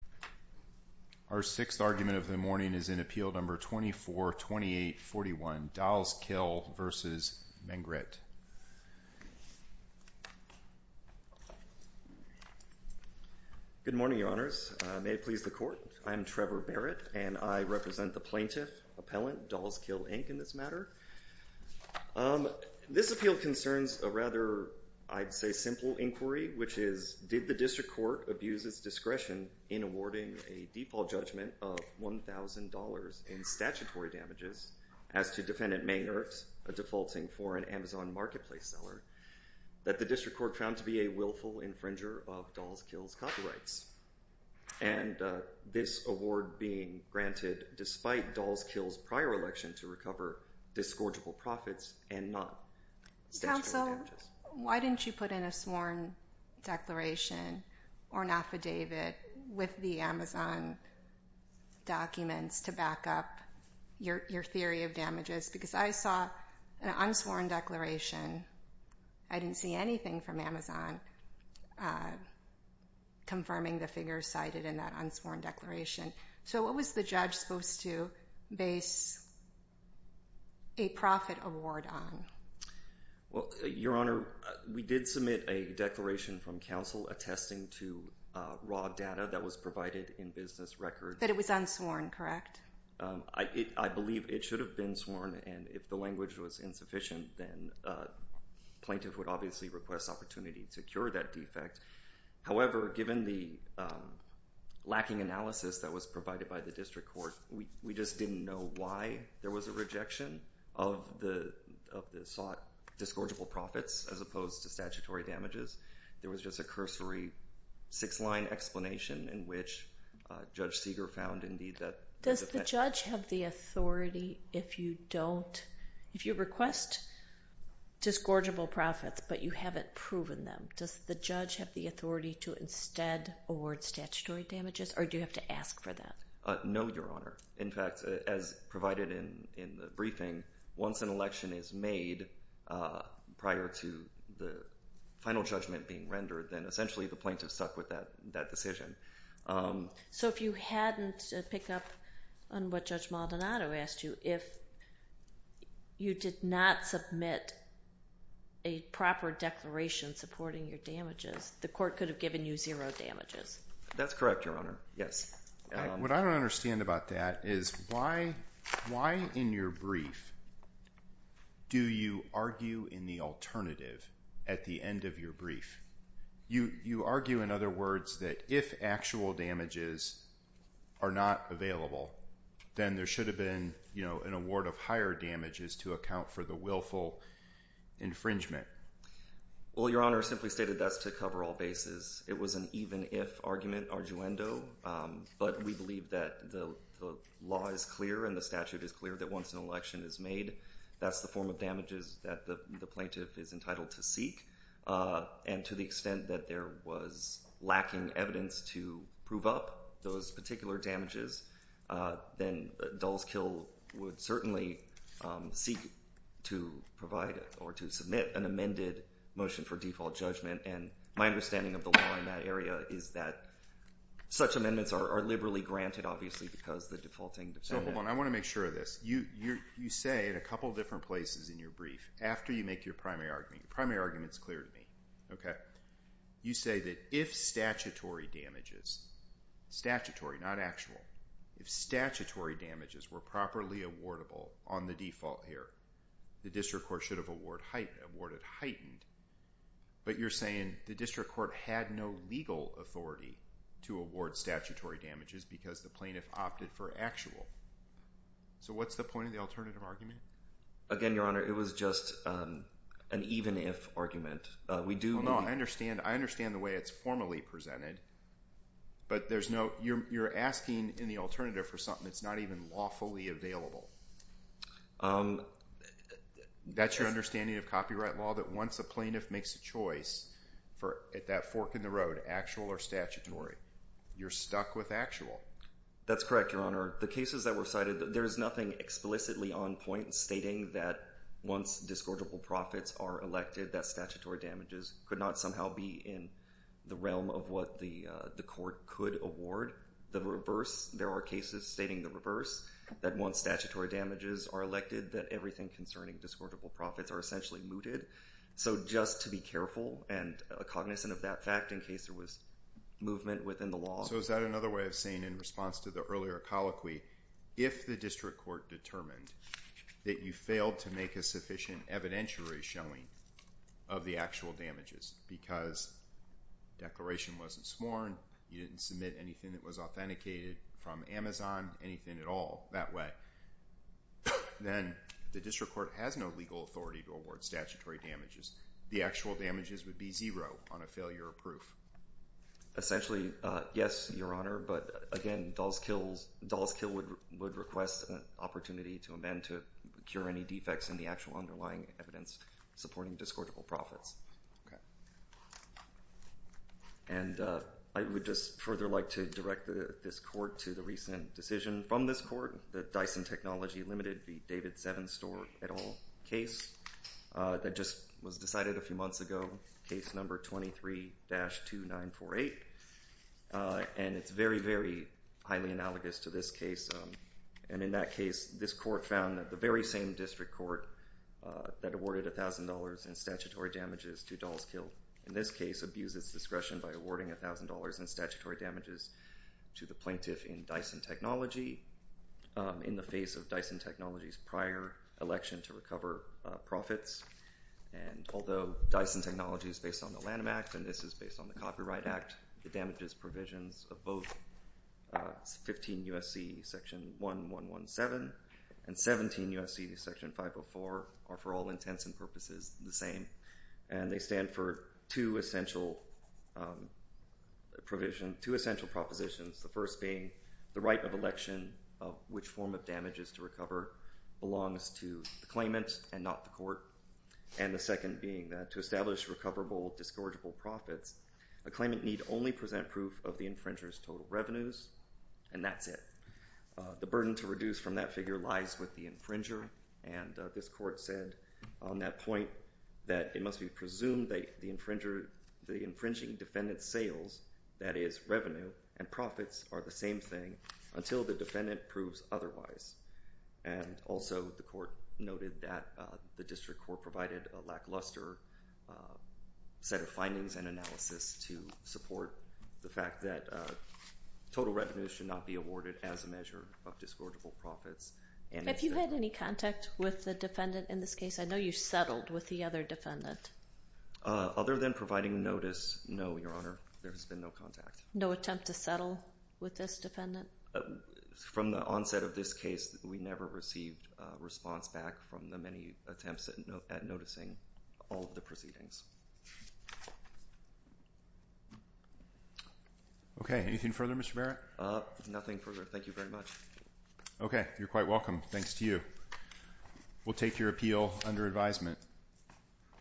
Our sixth argument of the morning is in Appeal Number 242841, Dahls Kill v. MengEryt. Good morning, Your Honors. May it please the Court, I am Trevor Barrett, and I represent the plaintiff, appellant, Dahls Kill, Inc., in this matter. This appeal concerns a rather, I'd say, simple inquiry, which is, did the District Court abuse its discretion in awarding a default judgment of $1,000 in statutory damages as to Defendant MengEryt, a defaulting foreign Amazon marketplace seller, that the District Court found to be a willful infringer of Dahls Kill's copyrights, and this award being granted despite Dahls Kill's prior election to recover disgorgeable profits and not statutory damages? Also, why didn't you put in a sworn declaration or an affidavit with the Amazon documents to back up your theory of damages? Because I saw an unsworn declaration. I didn't see anything from Amazon confirming the figure cited in that unsworn declaration. So what was the judge supposed to base a profit award on? Your Honor, we did submit a declaration from counsel attesting to raw data that was provided in business records. But it was unsworn, correct? I believe it should have been sworn, and if the language was insufficient, then plaintiff would obviously request opportunity to cure that defect. However, given the lacking analysis that was provided by the District Court, we just didn't know why there was a rejection of the sought disgorgeable profits as opposed to statutory damages. There was just a cursory six-line explanation in which Judge Seeger found, indeed, that... Does the judge have the authority, if you request disgorgeable profits but you haven't proven them, does the judge have the authority to instead award statutory damages, or do you have to ask for that? No, Your Honor. In fact, as provided in the briefing, once an election is made prior to the final judgment being rendered, then essentially the plaintiff stuck with that decision. So if you hadn't picked up on what Judge Maldonado asked you, if you did not submit a proper declaration supporting your damages, the court could have given you zero damages. That's correct, Your Honor. Yes. What I don't understand about that is why, in your brief, do you argue in the alternative at the end of your brief? You argue, in other words, that if actual damages are not available, then there should have been, you know, an award of higher damages to account for the willful infringement. Well, Your Honor, I simply stated that's to cover all bases. It was an even-if argument, arduendo, but we believe that the law is clear and the statute is clear that once an election is made, that's the form of damages that the plaintiff is entitled to seek. And to the extent that there was lacking evidence to prove up those particular damages, then dull's kill would certainly seek to provide or to submit an amended motion for default judgment. And my understanding of the law in that area is that such amendments are liberally granted, obviously, because the defaulting defendant. So hold on. I want to make sure of this. You say in a couple of different places in your brief, after you make your primary argument, your primary argument is clear to me, okay? You say that if statutory damages, statutory, not actual, if statutory damages were properly awardable on the default here, the district court should have awarded heightened. But you're saying the district court had no legal authority to award statutory damages because the plaintiff opted for actual. So what's the point of the alternative argument? Again, Your Honor, it was just an even-if argument. I understand the way it's formally presented, but you're asking in the alternative for something that's not even lawfully available. That's your understanding of copyright law, that once a plaintiff makes a choice at that fork in the road, actual or statutory, you're stuck with actual. That's correct, Your Honor. The cases that were cited, there's nothing explicitly on point stating that once discordable profits are elected, that statutory damages could not somehow be in the realm of what the court could award. The reverse, there are cases stating the reverse, that once statutory damages are elected that everything concerning discordable profits are essentially mooted. So just to be careful and cognizant of that fact in case there was movement within the law. So is that another way of saying in response to the earlier colloquy, if the district court determined that you failed to make a sufficient evidentiary showing of the actual damages because declaration wasn't sworn, you didn't submit anything that was authenticated from Amazon, anything at all that way, then the district court has no legal authority to award statutory damages. The actual damages would be zero on a failure of proof. Essentially, yes, Your Honor, but again, Dahl's Kill would request an opportunity to amend to cure any defects in the actual underlying evidence supporting discordable profits. And I would just further like to direct this court to the recent decision from this court, the Dyson Technology Limited v. David Sevenstore et al. case that just was decided a few months ago, case number 23-2948, and it's very, very highly analogous to this case. And in that case, this court found that the very same district court that awarded $1,000 in statutory damages to Dahl's Kill in this case abused its discretion by awarding $1,000 in statutory damages to the plaintiff in Dyson Technology in the face of Dyson Technology's prior election to recover profits. And although Dyson Technology is based on the Lanham Act and this is based on the Copyright Act, the damages provisions of both 15 U.S.C. section 1117 and 17 U.S.C. section 504 are for all intents and purposes the same. And they stand for two essential provisions, two essential propositions, the first being the right of election of which form of damages to recover belongs to the claimant and not the court, and the second being that to establish recoverable, discordable profits, a claimant need only present proof of the infringer's total revenues, and that's it. The burden to reduce from that figure lies with the infringer, and this court said on that point that it must be presumed that the infringing defendant's sales, that is revenue, and profits are the same thing until the defendant proves otherwise. And also the court noted that the district court provided a lackluster set of findings and analysis to support the fact that total revenues should not be awarded as a measure of discordable profits. If you had any contact with the defendant in this case, I know you settled with the other defendant. Other than providing notice, no, Your Honor, there has been no contact. No attempt to settle with this defendant? From the onset of this case, we never received a response back from the many attempts at noticing all of the proceedings. Okay. Anything further, Mr. Merritt? Nothing further. Thank you very much. Okay. You're quite welcome. Thanks to you. We'll take your appeal under advisement.